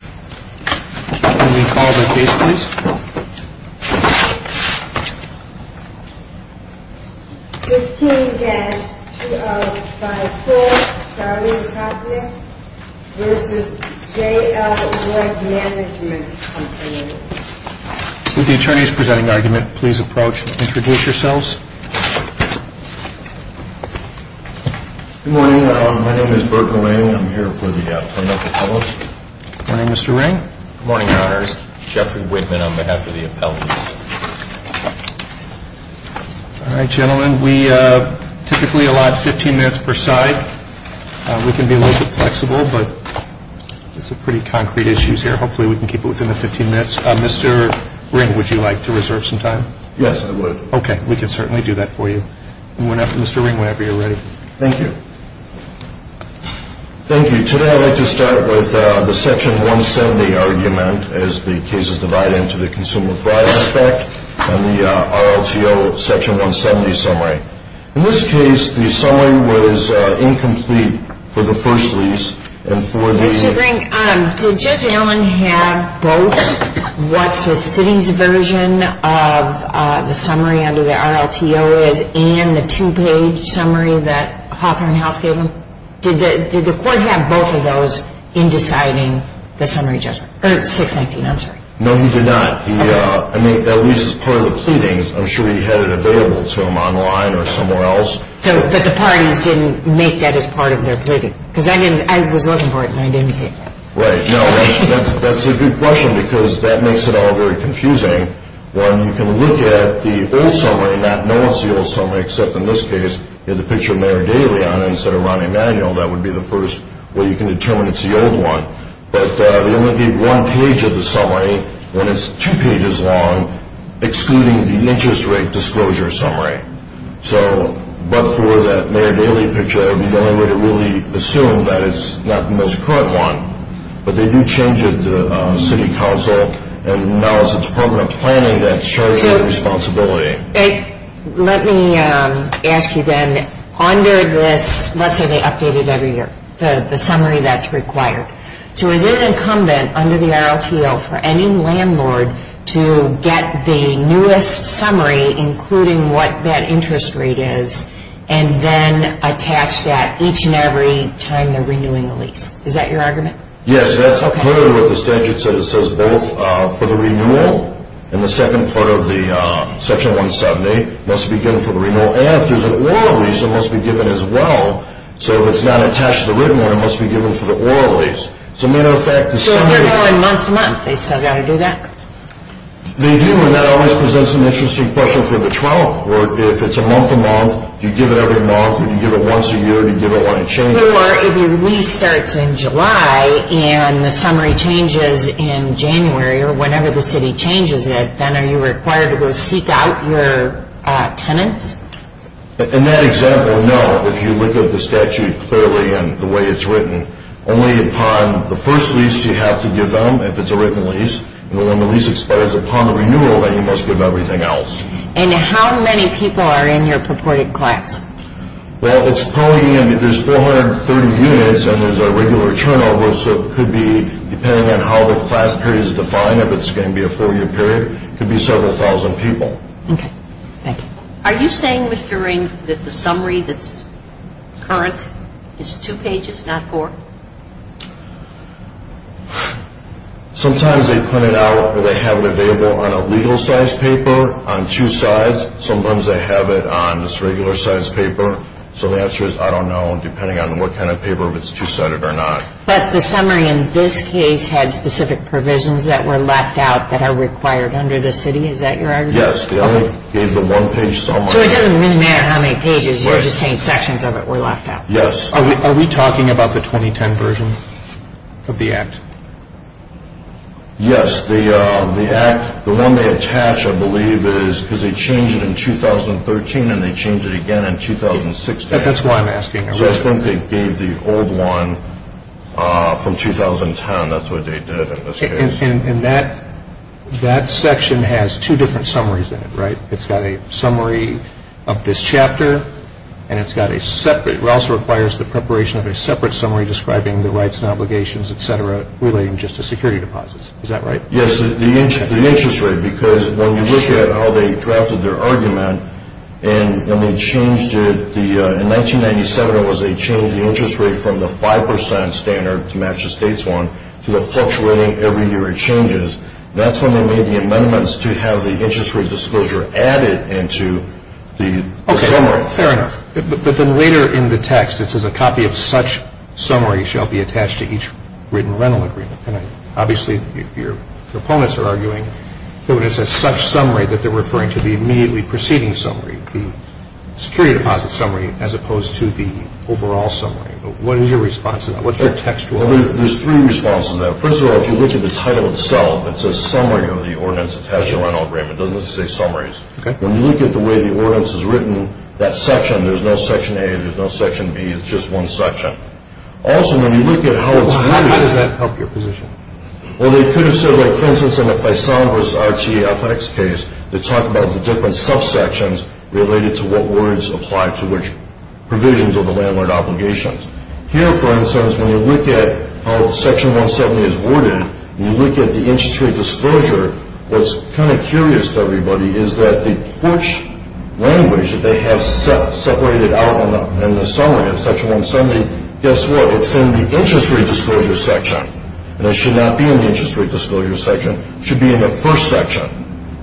Can we call the case please? 15 Jan 20054, Charlie Knocknick v. JL Woode Management Company Will the attorneys presenting the argument please approach and introduce yourselves? Good morning, my name is Burton Lane. I'm here for the Plano Public. Good morning, Mr. Ring. Good morning, Your Honors. Jeffrey Whitman on behalf of the appellants. All right, gentlemen, we typically allot 15 minutes per side. We can be a little bit flexible, but it's a pretty concrete issue here. Hopefully we can keep it within the 15 minutes. Mr. Ring, would you like to reserve some time? Yes, I would. Okay, we can certainly do that for you. Mr. Ring, whenever you're ready. Thank you. Thank you. Today I'd like to start with the Section 170 argument, as the case is divided into the consumer fraud aspect and the RLTO Section 170 summary. In this case, the summary was incomplete for the first lease and for the... Mr. Ring, did Judge Allen have both what the city's version of the summary under the RLTO is and the two-page summary that Hawthorne House gave him? Did the court have both of those in deciding the summary judgment? Or 619, I'm sorry. No, he did not. I mean, at least as part of the pleadings, I'm sure he had it available to him online or somewhere else. But the parties didn't make that as part of their pleading? Because I was looking for it and I didn't see it. Right. No, that's a good question because that makes it all very confusing. One, you can look at the old summary and not know it's the old summary, except in this case you have the picture of Mayor Daley on it instead of Ron Emanuel. That would be the first way you can determine it's the old one. But they only gave one page of the summary when it's two pages long, excluding the interest rate disclosure summary. So but for that Mayor Daley picture, that would be the only way to really assume that it's not the most current one. But they do change it at the City Council, and now it's the Department of Planning that's charging that responsibility. Let me ask you then, under this, let's say they update it every year, the summary that's required. So is it incumbent under the RLTO for any landlord to get the newest summary, including what that interest rate is, and then attach that each and every time they're renewing the lease? Is that your argument? Yes, that's part of what the statute says. It says both for the renewal and the second part of Section 170, it must be given for the renewal. And if there's an oral lease, it must be given as well. So if it's not attached to the written one, it must be given for the oral lease. So as a matter of fact, the summary... So if they're going month to month, they still got to do that? They do, and that always presents an interesting question for the trial court. If it's a month to month, you give it every month, if you give it once a year, you give it when it changes. Or if your lease starts in July and the summary changes in January or whenever the city changes it, then are you required to go seek out your tenants? In that example, no. If you look at the statute clearly and the way it's written, only upon the first lease you have to give them if it's a written lease. And when the lease expires upon the renewal, then you must give everything else. And how many people are in your purported collects? Well, it's probably, I mean, there's 430 units and there's a regular turnover, so it could be, depending on how the class period is defined, if it's going to be a four-year period, it could be several thousand people. Okay. Thank you. Are you saying, Mr. Ring, that the summary that's current is two pages, not four? Sometimes they print it out or they have it available on a legal-sized paper on two sides. Sometimes they have it on this regular-sized paper. So the answer is, I don't know, depending on what kind of paper, if it's two-sided or not. But the summary in this case had specific provisions that were left out that are required under the city. Is that your argument? Yes. They only gave the one-page summary. So it doesn't really matter how many pages, you're just saying sections of it were left out. Yes. Are we talking about the 2010 version of the Act? Yes. The Act, the one they attach, I believe, is because they changed it in 2013 and they changed it again in 2016. That's why I'm asking. So I think they gave the old one from 2010. That's what they did in this case. And that section has two different summaries in it, right? It's got a summary of this chapter and it's got a separate, it also requires the preparation of a separate summary describing the rights and obligations, etc., relating just to security deposits. Is that right? Yes, the interest rate. Because when you look at how they drafted their argument and they changed it, in 1997 it was they changed the interest rate from the 5% standard to match the state's one to a fluctuating every year it changes. That's when they made the amendments to have the interest rate disclosure added into the summary. Okay. Fair enough. But then later in the text it says, a copy of such summary shall be attached to each written rental agreement. And obviously your opponents are arguing that when it says such summary, that they're referring to the immediately preceding summary, the security deposit summary, as opposed to the overall summary. What is your response to that? What's your textual argument? There's three responses to that. First of all, if you look at the title itself, it says summary of the ordinance attached to rental agreement. It doesn't say summaries. Okay. When you look at the way the ordinance is written, that section, there's no section A, there's no section B, it's just one section. Also, when you look at how it's worded. How does that help your position? Well, they could have said, like, for instance, in the Faisal versus RTFX case, they talk about the different subsections related to what words apply to which provisions of the landlord obligations. Here, for instance, when you look at how section 170 is worded, when you look at the interest rate disclosure, what's kind of curious to everybody is that the first language that they have separated out in the summary of section 170, guess what, it's in the interest rate disclosure section. And it should not be in the interest rate disclosure section. It should be in the first section.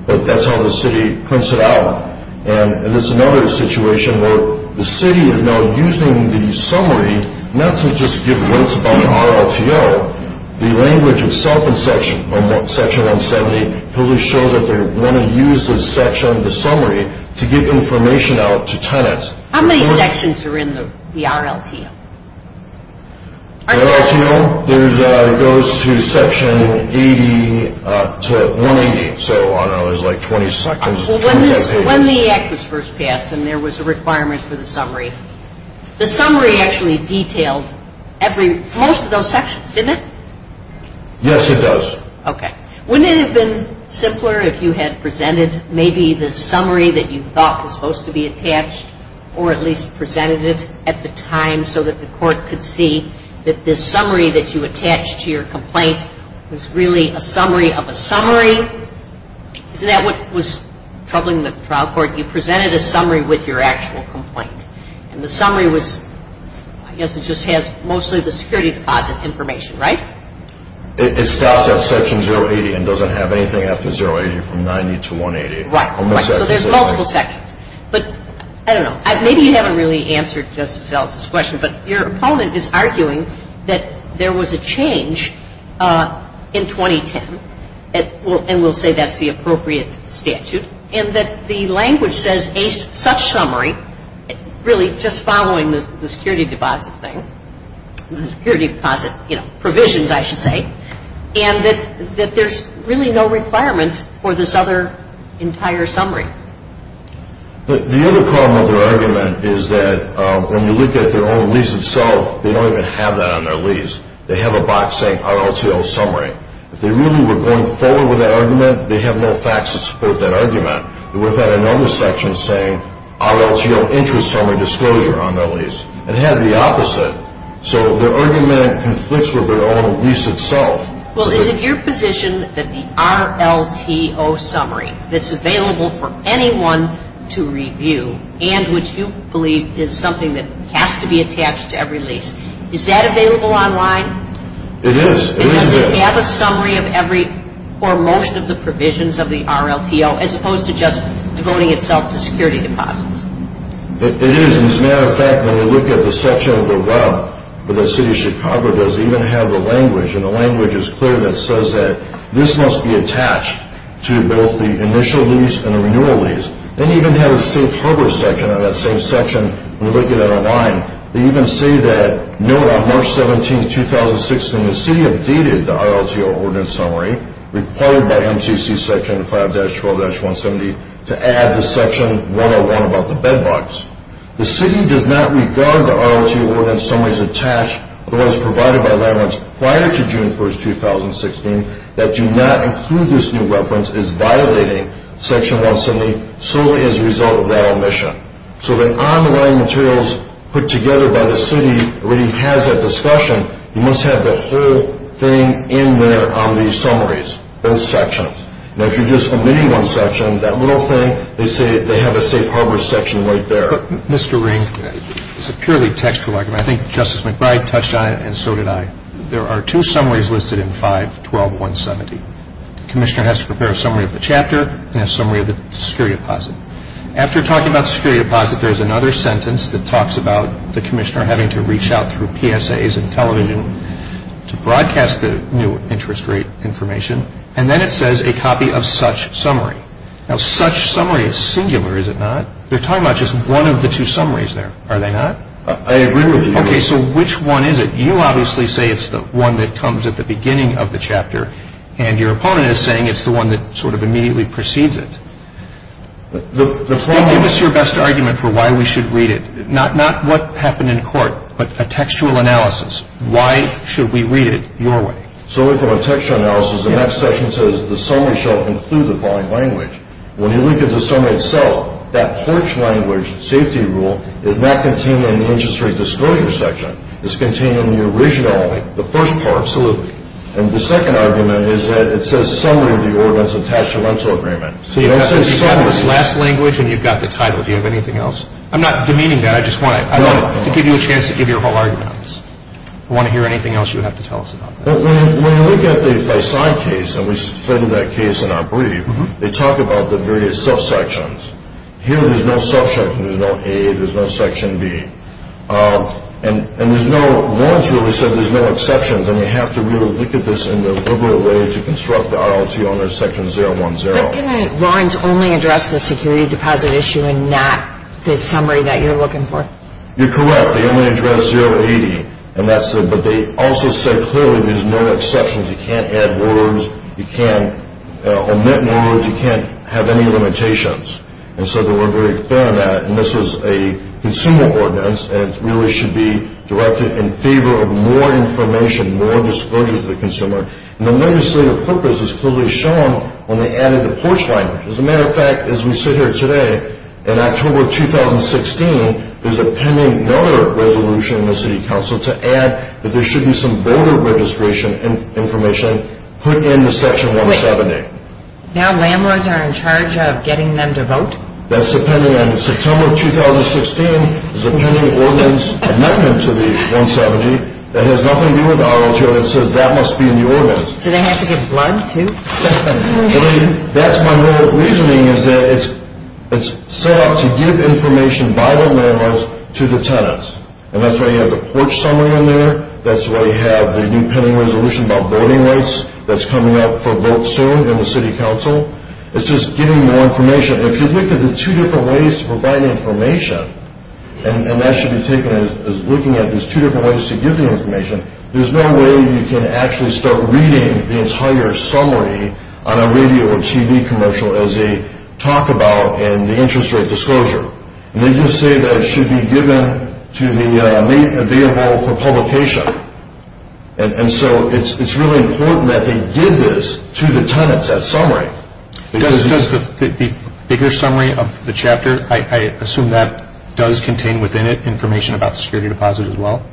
But that's how the city prints it out. And there's another situation where the city is now using the summary, not to just give links about the RLTO, the language itself in section 170 really shows that they want to use the section, the summary, to give information out to tenants. How many sections are in the RLTO? The RLTO, it goes to section 180. So, I don't know, there's like 20 sections. When the act was first passed and there was a requirement for the summary, the summary actually detailed most of those sections, didn't it? Yes, it does. Okay. Wouldn't it have been simpler if you had presented maybe the summary that you thought was supposed to be attached or at least presented it at the time so that the court could see that this summary that you attached to your complaint was really a summary of a summary? Isn't that what was troubling the trial court? You presented a summary with your actual complaint. And the summary was, I guess it just has mostly the security deposit information, right? It stops at section 080 and doesn't have anything after 080 from 90 to 180. Right. So there's multiple sections. But, I don't know, maybe you haven't really answered Justice Ellis' question, but your opponent is arguing that there was a change in 2010 and will say that's the appropriate statute and that the language says a such summary really just following the security deposit thing, the security deposit provisions, I should say, and that there's really no requirements for this other entire summary. The other problem with their argument is that when you look at their own lease itself, they don't even have that on their lease. They have a box saying R02O summary. If they really were going forward with that argument, they have no facts to support that argument. They would have had another section saying RLTO interest summary disclosure on their lease. It has the opposite. So their argument conflicts with their own lease itself. Well, is it your position that the RLTO summary that's available for anyone to review and which you believe is something that has to be attached to every lease, is that available online? It is. Does it have a summary for most of the provisions of the RLTO as opposed to just devoting itself to security deposits? It is. As a matter of fact, when you look at the section of the web that the City of Chicago does, they even have the language, and the language is clear that says that this must be attached to both the initial lease and the renewal lease. They even have a safe harbor section on that same section when you look at it online. They even say that, note on March 17, 2016, the City updated the RLTO ordinance summary required by MTC Section 5-12-170 to add the Section 101 about the bed bugs. The City does not regard the RLTO ordinance summaries attached, otherwise provided by Land Rights, prior to June 1, 2016, that do not include this new reference as violating Section 170 solely as a result of that omission. So the online materials put together by the City already has that discussion. You must have the whole thing in there on these summaries, both sections. Now, if you're just omitting one section, that little thing, they say they have a safe harbor section right there. Mr. Ring, it's a purely textual argument. I think Justice McBride touched on it, and so did I. There are two summaries listed in 5-12-170. The commissioner has to prepare a summary of the chapter and a summary of the security deposit. After talking about the security deposit, there is another sentence that talks about the commissioner having to reach out through PSAs and television to broadcast the new interest rate information, and then it says a copy of such summary. Now, such summary is singular, is it not? They're talking about just one of the two summaries there, are they not? I agree with you. Okay, so which one is it? You obviously say it's the one that comes at the beginning of the chapter, and your opponent is saying it's the one that sort of immediately precedes it. Give us your best argument for why we should read it. Not what happened in court, but a textual analysis. Why should we read it your way? So from a textual analysis, the next section says the summary shall include the following language. When you look at the summary itself, that porch language safety rule is not contained in the interest rate disclosure section. It's contained in the original, the first part. Absolutely. And the second argument is that it says summary of the ordinance of taxamento agreement. So you've got this last language, and you've got the title. Do you have anything else? I'm not demeaning that. I just want to give you a chance to give your whole argument on this. If you want to hear anything else, you'll have to tell us about that. When you look at the Faisal case, and we studied that case in our brief, they talk about the various subsections. Here there's no subsection. There's no A. There's no section B. And there's no, Lawrence really said there's no exceptions, and you have to really look at this in a liberal way to construct the RLT on section 010. But didn't Lawrence only address the security deposit issue and not the summary that you're looking for? You're correct. They only addressed 080, but they also said clearly there's no exceptions. You can't add words. You can't omit words. You can't have any limitations. And so they were very clear on that. And this is a consumer ordinance, and it really should be directed in favor of more information, more disclosures to the consumer. And the legislative purpose is clearly shown when they added the porch line. As a matter of fact, as we sit here today, in October 2016, there's a pending another resolution in the city council to add that there should be some voter registration information put into section 170. Now landlords are in charge of getting them to vote? In September of 2016, there's a pending ordinance amendment to the 170 that has nothing to do with RLTO that says that must be in the ordinance. Do they have to give blood too? That's my reasoning is that it's set up to give information by the landlords to the tenants. And that's why you have the porch summary in there. That's why you have the new pending resolution about voting rights that's coming up for votes soon in the city council. It's just giving more information. If you look at the two different ways to provide information, and that should be taken as looking at these two different ways to give the information, there's no way you can actually start reading the entire summary on a radio or TV commercial as they talk about in the interest rate disclosure. They just say that it should be given to the available for publication. And so it's really important that they give this to the tenants, that summary. Does the bigger summary of the chapter, I assume that does contain within it information about security deposit as well?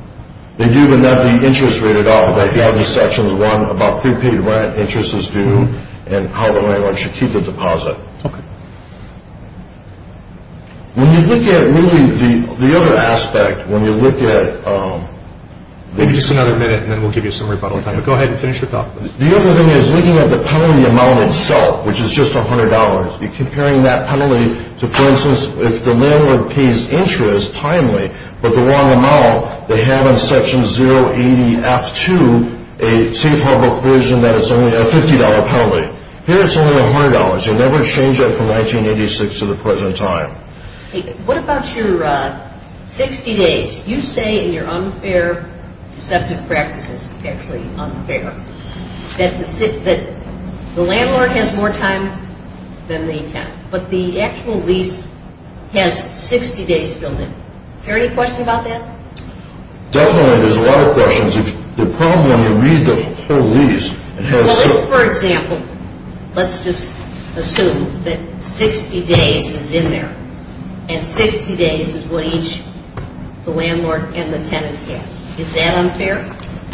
They do, but not the interest rate at all. They have the sections, one, about prepaid rent, interest is due, and how the landlord should keep the deposit. Okay. When you look at really the other aspect, when you look at... Maybe just another minute, and then we'll give you some rebuttal time. But go ahead and finish your talk. The other thing is looking at the penalty amount itself, which is just $100. You're comparing that penalty to, for instance, if the landlord pays interest timely, but the wrong amount, they have in Section 080F2 a safe harbor provision that it's only a $50 penalty. Here it's only $100. You'll never change that from 1986 to the present time. What about your 60 days? You say in your unfair deceptive practices, actually unfair, that the landlord has more time than the tenant, but the actual lease has 60 days filled in. Is there any question about that? Definitely, there's a lot of questions. The problem when you read the whole lease, it has... So, for example, let's just assume that 60 days is in there, and 60 days is what each the landlord and the tenant has. Is that unfair?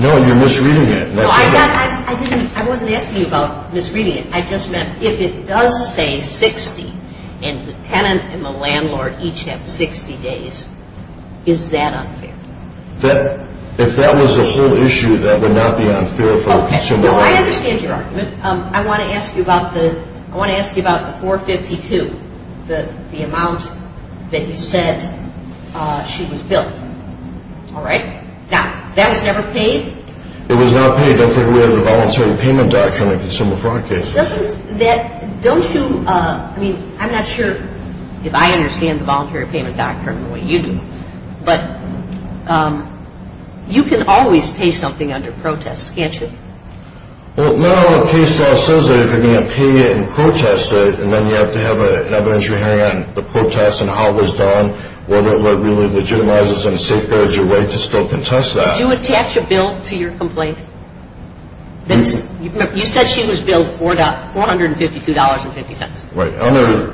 No, and you're misreading it. No, I wasn't asking about misreading it. I just meant if it does say 60, and the tenant and the landlord each have 60 days, is that unfair? If that was the whole issue, that would not be unfair for the consumer. Well, I understand your argument. I want to ask you about the 452, the amount that you said she was billed. All right? Now, that was never paid? It was not paid. Don't forget we have the voluntary payment doctrine in consumer fraud cases. Don't you... I mean, I'm not sure if I understand the voluntary payment doctrine the way you do, but you can always pay something under protest, can't you? Well, no. The case law says that if you're going to pay it in protest, and then you have to have an evidentiary hearing on the protest and how it was done, whether it really legitimizes and safeguards your right to still contest that. Did you attach a bill to your complaint? You said she was billed $452.50. Right.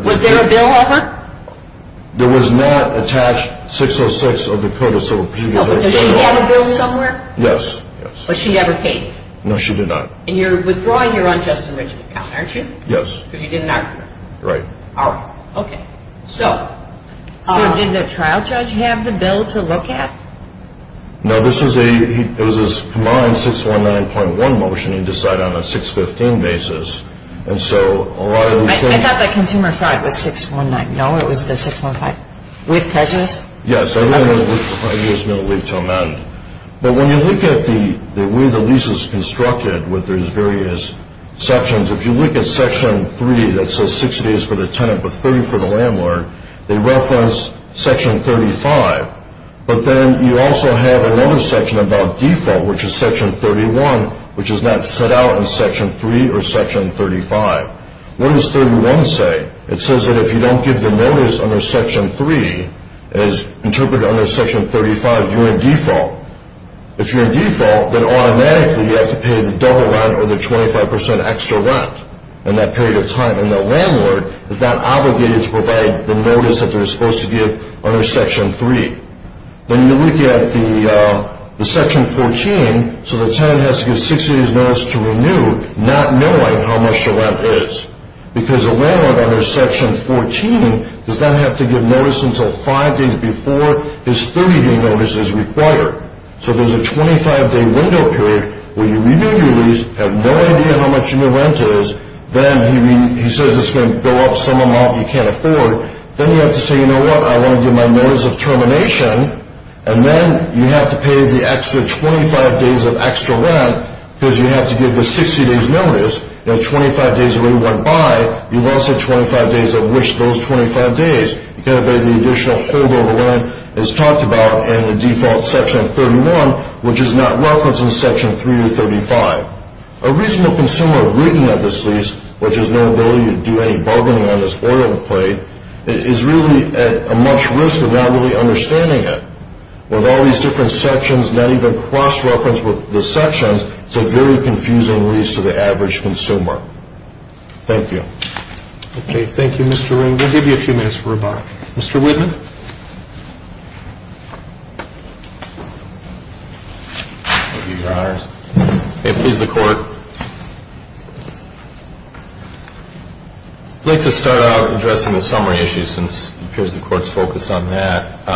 Was there a bill of her? There was not attached 606 of the Code of Civil Procedure. No, but does she have a bill somewhere? Yes. But she never paid you? No, she did not. And you're withdrawing your unjust enrichment account, aren't you? Yes. Because you didn't argue with her? Right. All right. Okay. So did the trial judge have the bill to look at? No, this was a combined 619.1 motion he decided on a 615 basis, and so a lot of these things... I thought that consumer fraud was 619. No? It was the 615? With prejudice? Yes. I used no leave to amend. But when you look at the way the lease is constructed with these various sections, if you look at Section 3 that says 60 is for the tenant but 30 for the landlord, they reference Section 35. But then you also have another section about default, which is Section 31, which is not set out in Section 3 or Section 35. What does 31 say? It says that if you don't give the notice under Section 3 as interpreted under Section 35, you're in default. If you're in default, then automatically you have to pay the double rent or the 25% extra rent in that period of time, and the landlord is not obligated to provide the notice that they're supposed to give under Section 3. Then you look at the Section 14, so the tenant has to give 60 days' notice to renew not knowing how much the rent is because the landlord under Section 14 does not have to give notice until five days before his 30-day notice is required. So there's a 25-day window period where you renew your lease, have no idea how much your new rent is, then he says it's going to go up some amount you can't afford, then you have to say, you know what, I want to give my notice of termination, and then you have to pay the extra 25 days of extra rent because you have to give the 60 days' notice. You know, 25 days already went by. You've also got 25 days of which those 25 days, you've got to pay the additional holdover rent, as talked about in the default Section 31, which is not referenced in Section 3 or 35. A reasonable consumer of reading at this lease, which is no ability to do any bargaining on this oil plate, is really at a much risk of not really understanding it. With all these different sections, not even cross-referenced with the sections, it's a very confusing lease to the average consumer. Thank you. Okay, thank you, Mr. Ring. We'll give you a few minutes for rebuttal. Mr. Whitman? I'll give you your honors. Okay, please, the Court. I'd like to start out addressing the summary issue, since it appears the Court's focused on that.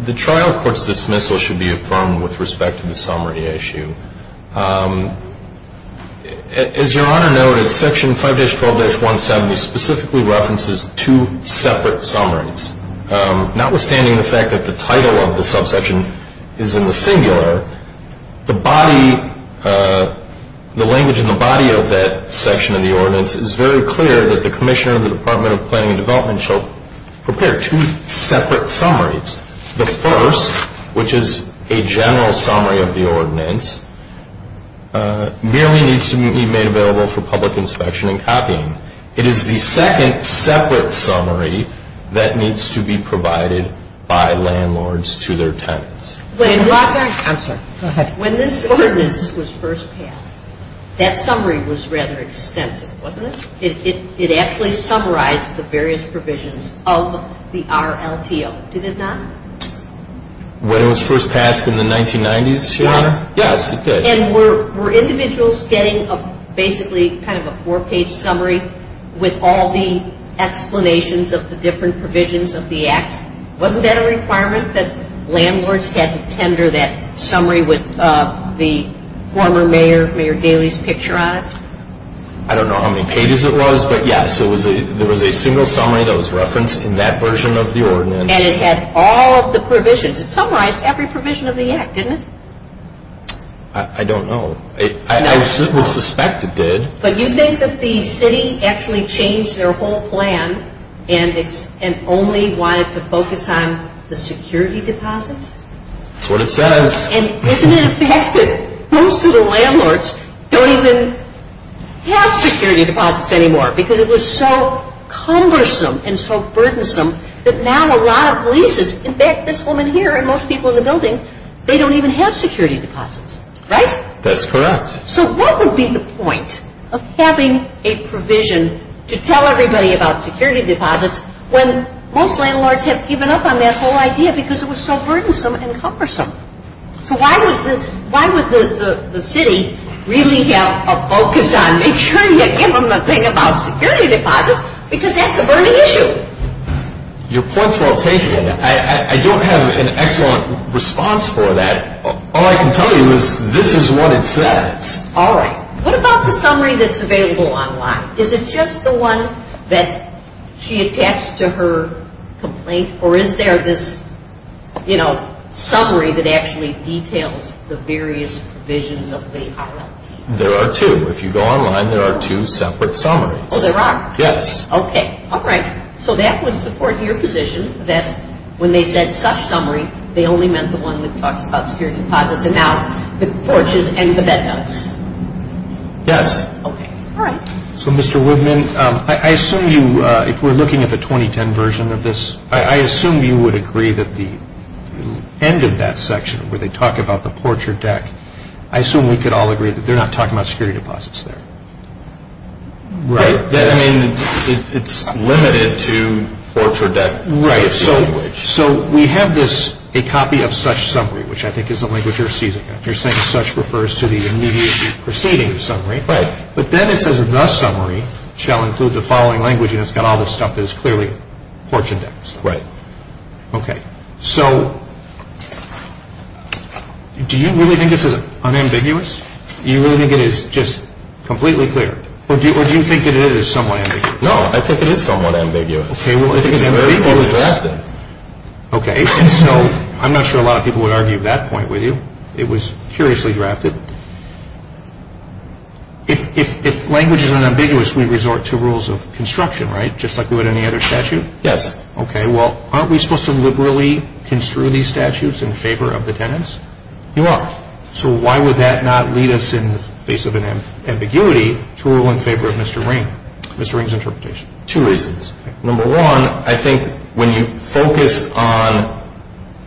The trial court's dismissal should be affirmed with respect to the summary issue. As Your Honor noted, Section 5-12-170 specifically references two separate summaries. Notwithstanding the fact that the title of the subsection is in the singular, the body, the language in the body of that section of the ordinance is very clear that the Commissioner of the Department of Planning and Development shall prepare two separate summaries. The first, which is a general summary of the ordinance, merely needs to be made available for public inspection and copying. It is the second separate summary that needs to be provided by landlords to their tenants. When this ordinance was first passed, that summary was rather extensive, wasn't it? It actually summarized the various provisions of the RLTO, did it not? When it was first passed in the 1990s, Your Honor? Yes. Yes, it did. And were individuals getting basically kind of a four-page summary with all the explanations of the different provisions of the Act? Wasn't that a requirement that landlords had to tender that summary with the former mayor, Mayor Daley's picture on it? I don't know how many pages it was, but yes, there was a single summary that was referenced in that version of the ordinance. And it had all of the provisions. It summarized every provision of the Act, didn't it? I don't know. I would suspect it did. But you think that the city actually changed their whole plan and only wanted to focus on the security deposits? That's what it says. And isn't it a fact that most of the landlords don't even have security deposits anymore because it was so cumbersome and so burdensome that now a lot of leases, in fact, this woman here and most people in the building, they don't even have security deposits, right? That's correct. So what would be the point of having a provision to tell everybody about security deposits when most landlords have given up on that whole idea because it was so burdensome and cumbersome? So why would the city really have a focus on make sure you give them a thing about security deposits because that's a burning issue? Your point's well taken. I don't have an excellent response for that. All I can tell you is this is what it says. All right. What about the summary that's available online? Is it just the one that she attached to her complaint or is there this summary that actually details the various provisions of the RLT? There are two. If you go online, there are two separate summaries. Oh, there are? Yes. Okay. All right. So that would support your position that when they said such summary, they only meant the one that talks about security deposits and now the porches and the bed notes. Yes. Okay. All right. So, Mr. Woodman, I assume you, if we're looking at the 2010 version of this, I assume you would agree that the end of that section where they talk about the porch or deck, I assume we could all agree that they're not talking about security deposits there. Right. I mean, it's limited to porch or deck. Right. So we have this, a copy of such summary, which I think is the language you're seizing at. You're saying such refers to the immediate preceding summary. Right. But then it says the summary shall include the following language and it's got all this stuff that is clearly porch and deck. Right. Okay. So do you really think this is unambiguous? Do you really think it is just completely clear? Or do you think it is somewhat ambiguous? No, I think it is somewhat ambiguous. Okay. Well, I think it's ambiguous. I think it's very clearly drafted. Okay. And so I'm not sure a lot of people would argue that point with you. It was curiously drafted. If language is unambiguous, we resort to rules of construction, right, just like we would any other statute? Yes. Okay. Well, aren't we supposed to liberally construe these statutes in favor of the tenants? You are. So why would that not lead us in the face of an ambiguity to rule in favor of Mr. Ring, Mr. Ring's interpretation? Two reasons. Number one, I think when you focus on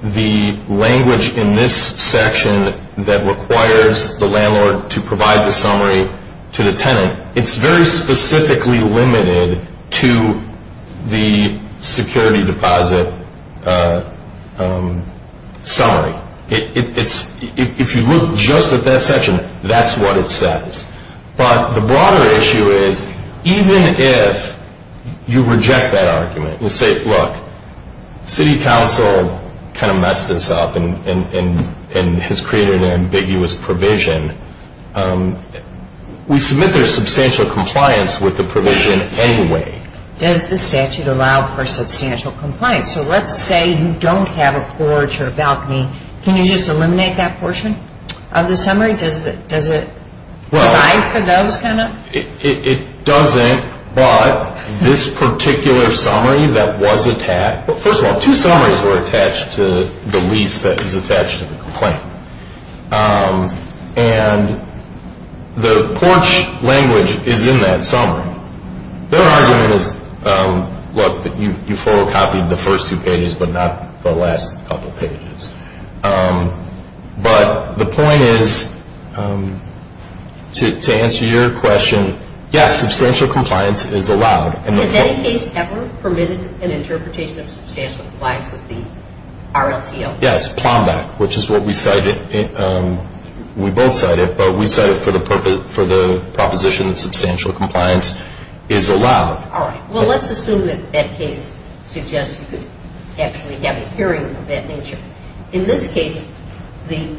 the language in this section that requires the landlord to provide the summary to the tenant, it's very specifically limited to the security deposit summary. If you look just at that section, that's what it says. But the broader issue is even if you reject that argument and say, look, city council kind of messed this up and has created an ambiguous provision, we submit there's substantial compliance with the provision anyway. Does the statute allow for substantial compliance? So let's say you don't have a porch or a balcony. Does it provide for those kind of? It doesn't. But this particular summary that was attached, first of all, two summaries were attached to the lease that was attached to the complaint. And the porch language is in that summary. Their argument is, look, you photocopied the first two pages, but not the last couple of pages. But the point is, to answer your question, yes, substantial compliance is allowed. Has any case ever permitted an interpretation of substantial compliance with the RLTO? Yes, Plomback, which is what we cited. We both cited, but we cited for the proposition that substantial compliance is allowed. All right. Well, let's assume that that case suggests you could actually have a hearing of that nature. In this case, the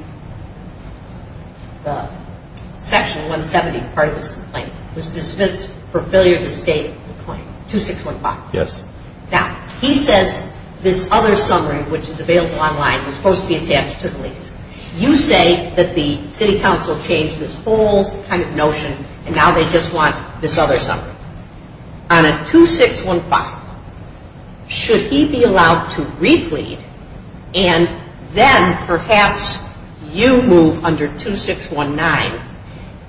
section 170 part of his complaint was dismissed for failure to state the claim, 2615. Yes. Now, he says this other summary, which is available online, was supposed to be attached to the lease. You say that the city council changed this whole kind of notion, and now they just want this other summary. On a 2615, should he be allowed to replead, and then perhaps you move under 2619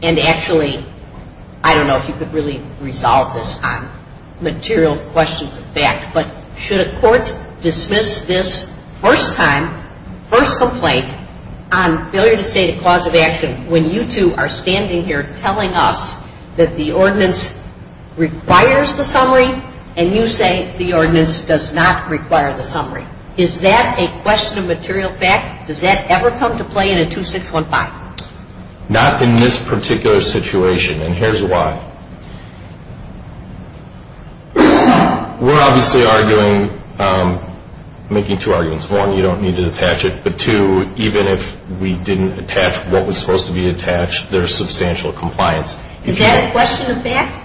and actually, I don't know if you could really resolve this on material questions of fact, but should a court dismiss this first time, first complaint on failure to state a cause of action when you two are standing here telling us that the ordinance requires the summary, and you say the ordinance does not require the summary? Is that a question of material fact? Does that ever come to play in a 2615? Not in this particular situation, and here's why. We're obviously arguing, making two arguments. One, you don't need to attach it, but two, even if we didn't attach what was supposed to be attached, there's substantial compliance. Is that a question of fact?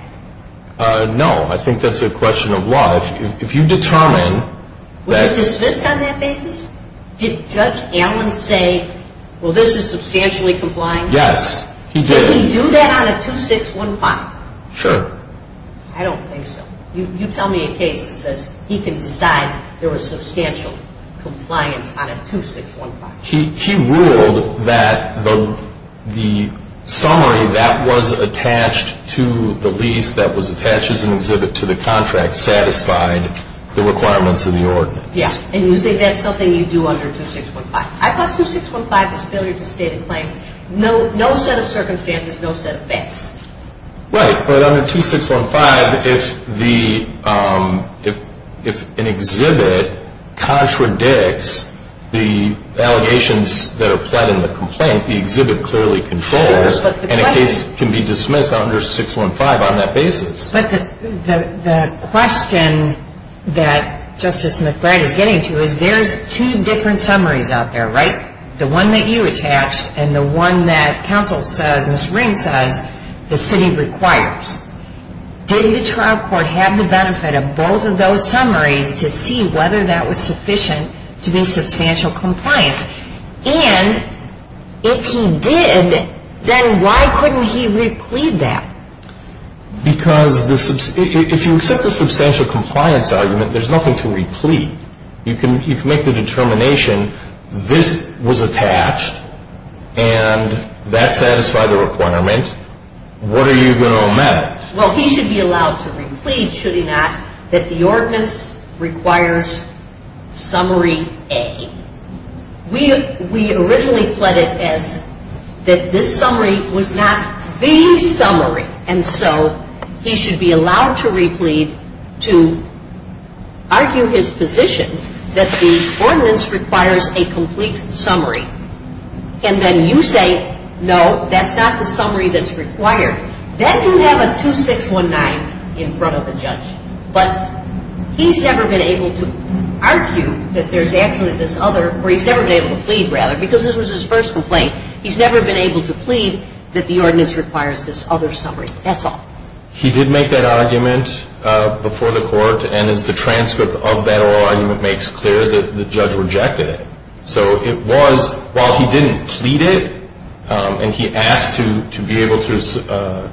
No. I think that's a question of law. If you determine that — Was it dismissed on that basis? Did Judge Allen say, well, this is substantially compliant? Yes, he did. Did he do that on a 2615? Sure. I don't think so. You tell me a case that says he can decide there was substantial compliance on a 2615. He ruled that the summary that was attached to the lease, that was attached as an exhibit to the contract, satisfied the requirements of the ordinance. Yeah, and you think that's something you do under 2615. I thought 2615 was failure to state a claim. No set of circumstances, no set of facts. Right, but under 2615, if an exhibit contradicts the allegations that are pled in the complaint, the exhibit clearly controls, and a case can be dismissed under 615 on that basis. But the question that Justice McBride is getting to is there's two different summaries out there, right? The one that you attached and the one that counsel says, Ms. Ring says, the city requires. Did the trial court have the benefit of both of those summaries to see whether that was sufficient to be substantial compliance? And if he did, then why couldn't he re-plead that? Because if you accept the substantial compliance argument, there's nothing to re-plead. You can make the determination this was attached and that satisfied the requirement. What are you going to amend it? Well, he should be allowed to re-plead, should he not, that the ordinance requires summary A. We originally pled it as that this summary was not the summary, and so he should be allowed to re-plead to argue his position that the ordinance requires a complete summary. And then you say, no, that's not the summary that's required. Then you have a 2619 in front of the judge. But he's never been able to argue that there's actually this other, or he's never been able to plead, rather, because this was his first complaint. He's never been able to plead that the ordinance requires this other summary. That's all. He did make that argument before the court, and as the transcript of that oral argument makes clear, the judge rejected it. So it was, while he didn't plead it, and he asked to be able to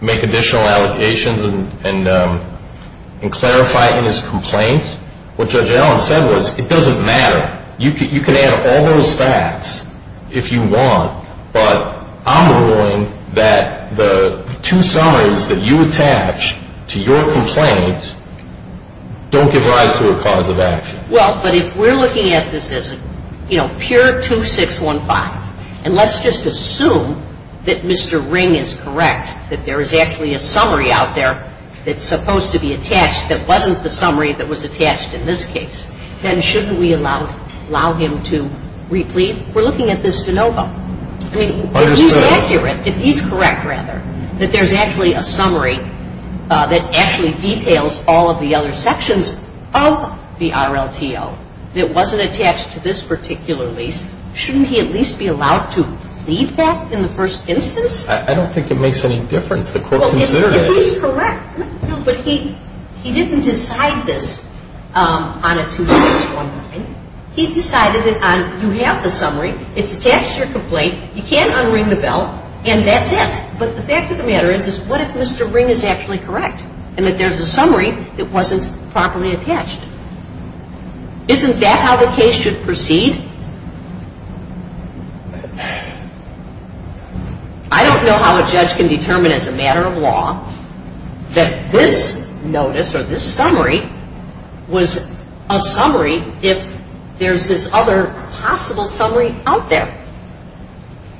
make additional allegations and clarify in his complaint, what Judge Allen said was it doesn't matter. You can add all those facts if you want, but I'm ruling that the two summaries that you attach to your complaint don't give rise to a cause of action. Well, but if we're looking at this as, you know, pure 2615, and let's just assume that Mr. Ring is correct, that there is actually a summary out there that's supposed to be attached that wasn't the summary that was attached in this case, then shouldn't we allow him to re-plead? We're looking at this de novo. I mean, if he's accurate, if he's correct, rather, that there's actually a summary that actually details all of the other sections of the RLTO that wasn't attached to this particular lease, shouldn't he at least be allowed to plead that in the first instance? I don't think it makes any difference. The court considered it. He's correct, but he didn't decide this on a 2615. He decided that you have the summary. It's attached to your complaint. You can't unring the bell, and that's it. But the fact of the matter is what if Mr. Ring is actually correct and that there's a summary that wasn't properly attached? Isn't that how the case should proceed? I don't know how a judge can determine as a matter of law that this notice or this summary was a summary if there's this other possible summary out there.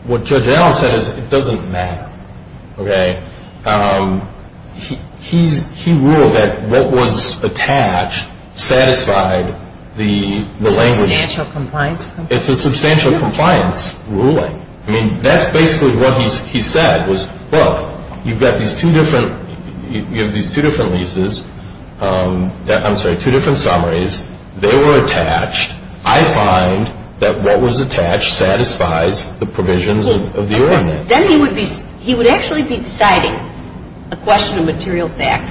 What Judge Allen said is it doesn't matter. Okay? He ruled that what was attached satisfied the language. Substantial compliance. It's a substantial compliance ruling. I mean, that's basically what he said was, look, you've got these two different leases, I'm sorry, two different summaries. They were attached. I find that what was attached satisfies the provisions of the ordinance. Then he would actually be deciding a question of material fact,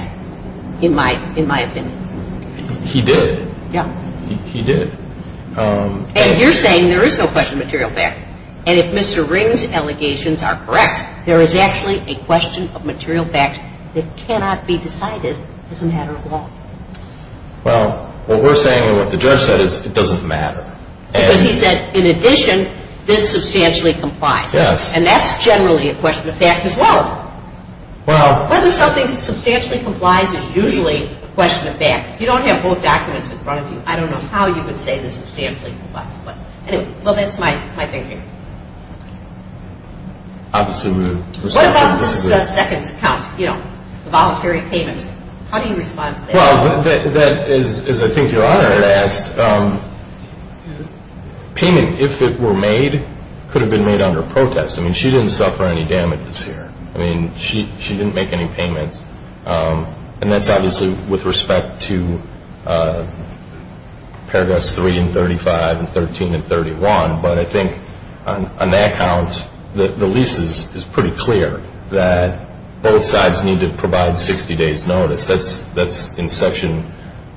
in my opinion. He did. Yeah. He did. And you're saying there is no question of material fact. And if Mr. Ring's allegations are correct, there is actually a question of material fact that cannot be decided as a matter of law. Well, what we're saying and what the judge said is it doesn't matter. Because he said, in addition, this substantially complies. Yes. And that's generally a question of fact as well. Whether something substantially complies is usually a question of fact. If you don't have both documents in front of you, I don't know how you would say this substantially complies. But anyway, well, that's my thinking. Obviously, we would respect that. What about this second count, you know, the voluntary payments? How do you respond to that? Well, as I think your Honor had asked, payment, if it were made, could have been made under protest. I mean, she didn't suffer any damages here. I mean, she didn't make any payments. And that's obviously with respect to Paragraphs 3 and 35 and 13 and 31. But I think on that count, the lease is pretty clear that both sides need to provide 60 days' notice. That's in Section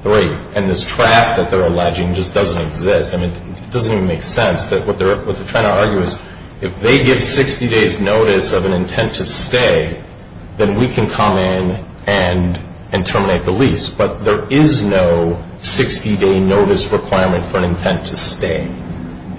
3. And this trap that they're alleging just doesn't exist. I mean, it doesn't even make sense. What they're trying to argue is if they give 60 days' notice of an intent to stay, then we can come in and terminate the lease. But there is no 60-day notice requirement for an intent to stay.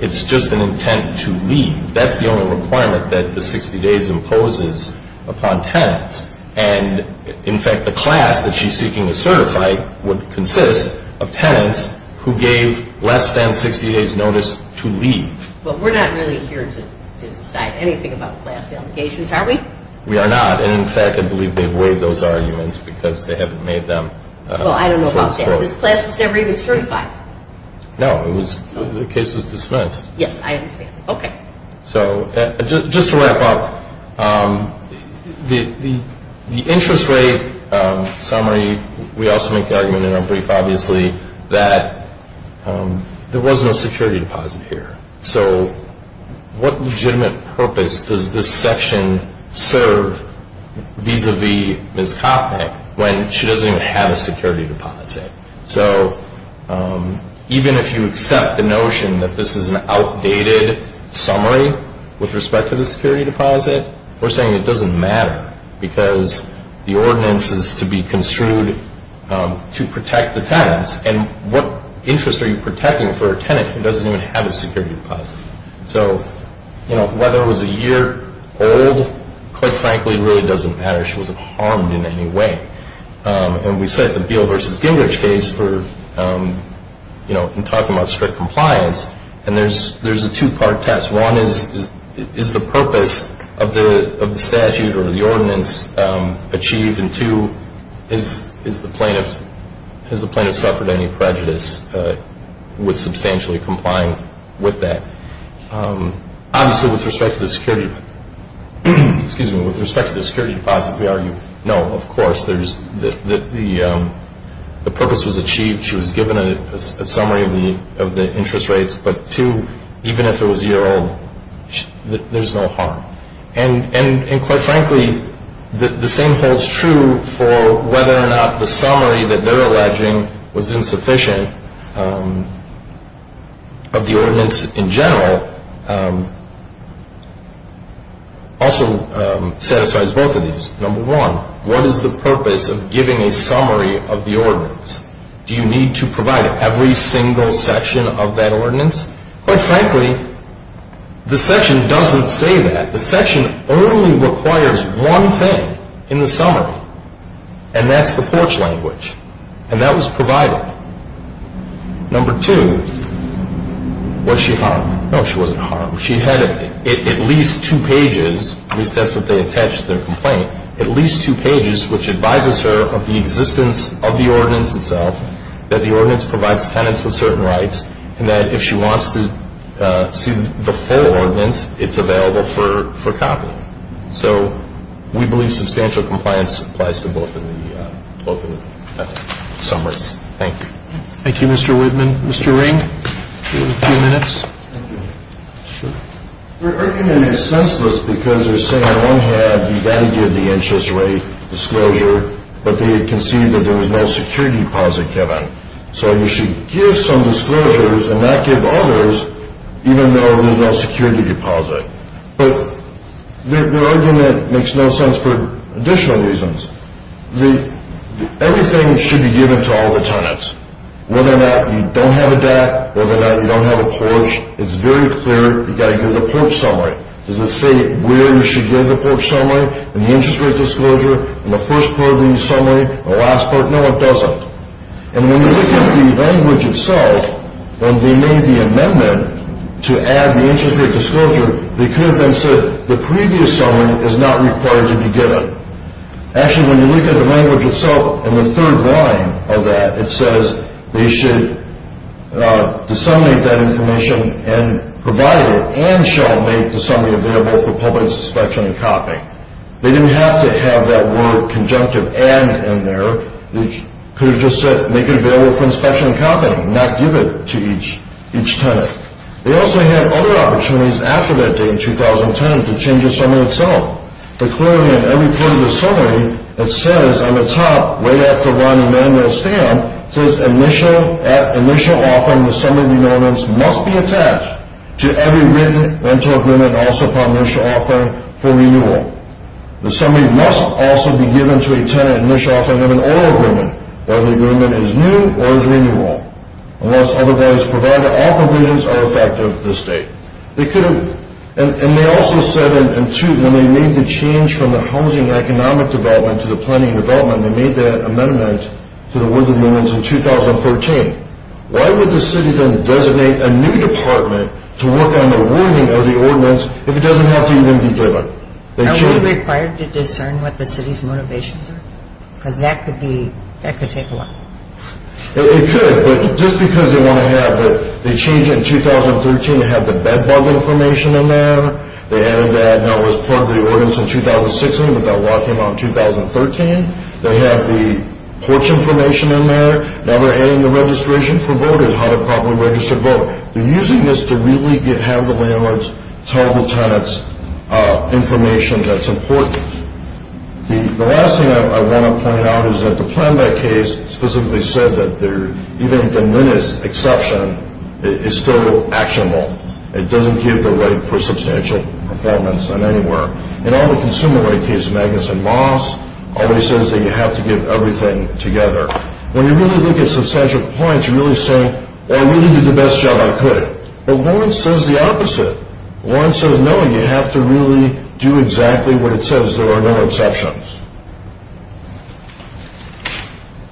It's just an intent to leave. That's the only requirement that the 60 days imposes upon tenants. And, in fact, the class that she's seeking to certify would consist of tenants who gave less than 60 days' notice to leave. Well, we're not really here to decide anything about class allegations, are we? We are not. And, in fact, I believe they've waived those arguments because they haven't made them. Well, I don't know about that. This class was never even certified. No, the case was dismissed. Yes, I understand. Okay. So just to wrap up, the interest rate summary, we also make the argument in our brief, obviously, that there was no security deposit here. So what legitimate purpose does this section serve vis-à-vis Ms. Kotnick when she doesn't even have a security deposit? So even if you accept the notion that this is an outdated summary with respect to the security deposit, we're saying it doesn't matter because the ordinance is to be construed to protect the tenants. And what interest are you protecting for a tenant who doesn't even have a security deposit? So, you know, whether it was a year old, quite frankly, it really doesn't matter. She wasn't harmed in any way. And we cite the Beal v. Gingrich case for, you know, in talking about strict compliance, and there's a two-part test. One is, is the purpose of the statute or the ordinance achieved? And two, has the plaintiff suffered any prejudice with substantially complying with that? Obviously, with respect to the security deposit, we argue, no, of course, the purpose was achieved. She was given a summary of the interest rates. But two, even if it was a year old, there's no harm. And quite frankly, the same holds true for whether or not the summary that they're alleging was insufficient of the ordinance in general also satisfies both of these. Number one, what is the purpose of giving a summary of the ordinance? Do you need to provide every single section of that ordinance? Quite frankly, the section doesn't say that. The section only requires one thing in the summary, and that's the porch language. And that was provided. Number two, was she harmed? No, she wasn't harmed. She had at least two pages, at least that's what they attached to their complaint, at least two pages which advises her of the existence of the ordinance itself, that the ordinance provides tenants with certain rights, and that if she wants to see the full ordinance, it's available for copying. So we believe substantial compliance applies to both of the summaries. Thank you. Thank you, Mr. Whitman. Mr. Ring, you have a few minutes. Thank you. Sure. The argument is senseless because they're saying I don't have the value of the interest rate disclosure, but they concede that there was no security deposit given. So you should give some disclosures and not give others, even though there's no security deposit. But their argument makes no sense for additional reasons. Everything should be given to all the tenants. Whether or not you don't have a DAT, whether or not you don't have a porch, it's very clear. You've got to give the porch summary. Does it say where you should give the porch summary and the interest rate disclosure in the first part of the summary, the last part? No, it doesn't. And when you look at the language itself, when they made the amendment to add the interest rate disclosure, they could have then said the previous summary is not required to be given. Actually, when you look at the language itself, in the third line of that, it says they should disseminate that information and provide it and shall make the summary available for public inspection and copy. They didn't have to have that word conjunctive and in there. They could have just said make it available for inspection and copy and not give it to each tenant. They also had other opportunities after that date in 2010 to change the summary itself. But clearly in every part of the summary, it says on the top, right after the line of manual stamp, it says initial offering, the summary of the amendments must be attached to every written rental agreement and also upon initial offering for renewal. The summary must also be given to a tenant initial offering of an oral agreement, whether the agreement is new or is renewal. Unless otherwise provided, all provisions are effective this date. And they also said when they made the change from the housing economic development to the planning development, they made that amendment to the words of the ordinance in 2013. Why would the city then designate a new department to work on the wording of the ordinance if it doesn't have to even be given? Are we required to discern what the city's motivations are? Because that could be, that could take a while. It could, but just because they want to have the, they change it in 2013, they have the bed bug information in there. They added that, and that was part of the ordinance in 2016, but that law came out in 2013. They have the porch information in there. Now they're adding the registration for voters, how to properly register to vote. They're using this to really have the landlords tell the tenants information that's important. The last thing I want to point out is that the plan-back case specifically said that even the minutes exception is still actionable. It doesn't give the right for substantial apartments in anywhere. And all the consumer-led case, Magnus and Moss, always says that you have to give everything together. When you really look at substantial apartments, you're really saying, well, I really did the best job I could. But Lawrence says the opposite. Lawrence says, no, you have to really do exactly what it says. There are no exceptions.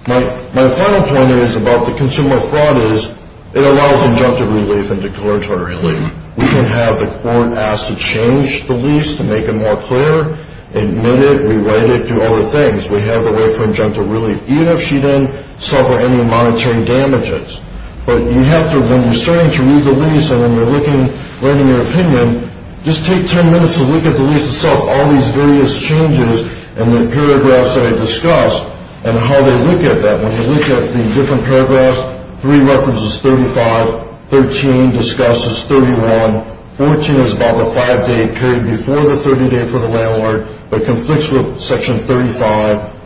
My final point is about the consumer fraud is it allows injunctive relief and declaratory relief. We can have the court ask to change the lease to make it more clear, admit it, rewrite it, do other things. We have the way for injunctive relief, even if she didn't suffer any monetary damages. But you have to, when you're starting to read the lease and when you're looking, learning your opinion, just take 10 minutes to look at the lease itself, all these various changes, and the paragraphs that are discussed, and how they look at that. When you look at the different paragraphs, 3 references 35, 13 discusses 31, 14 is about the 5-day period before the 30-day for the landlord, but conflicts with Section 35.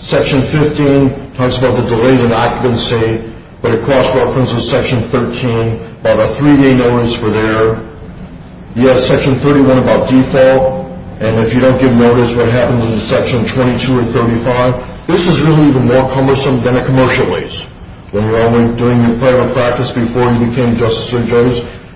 Section 15 talks about the delays in occupancy, but it cross-references Section 13, about a 3-day notice for there. You have Section 31 about default, and if you don't give notice, what happens in Section 22 or 35? This is really even more cumbersome than a commercial lease. When you're only doing your prior practice before you became Justice Sotomayor,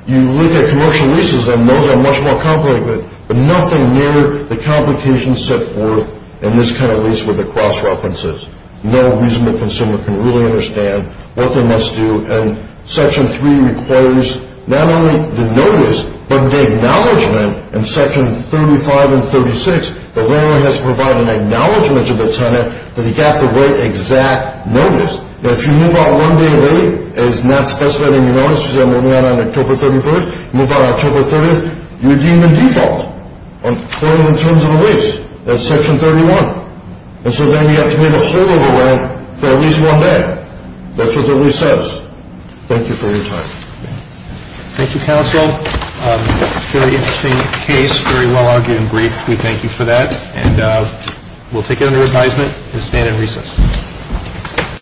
you look at commercial leases, and those are much more complicated. But nothing near the complications set forth in this kind of lease with the cross-references. No reasonable consumer can really understand what they must do, and Section 3 requires not only the notice, but the acknowledgement in Section 35 and 36. The landlord has to provide an acknowledgement to the tenant that he got the right exact notice. Now, if you move out one day late, and it's not specified in your notice, you say I'm moving out on October 31st, you move out on October 30th, you're deemed in default in terms of a lease. That's Section 31. And so then you have to wait a whole other way for at least one day. That's what the lease says. Thank you for your time. Thank you, counsel. Very interesting case, very well-argued and briefed. We thank you for that, and we'll take it under advisement and stand at recess.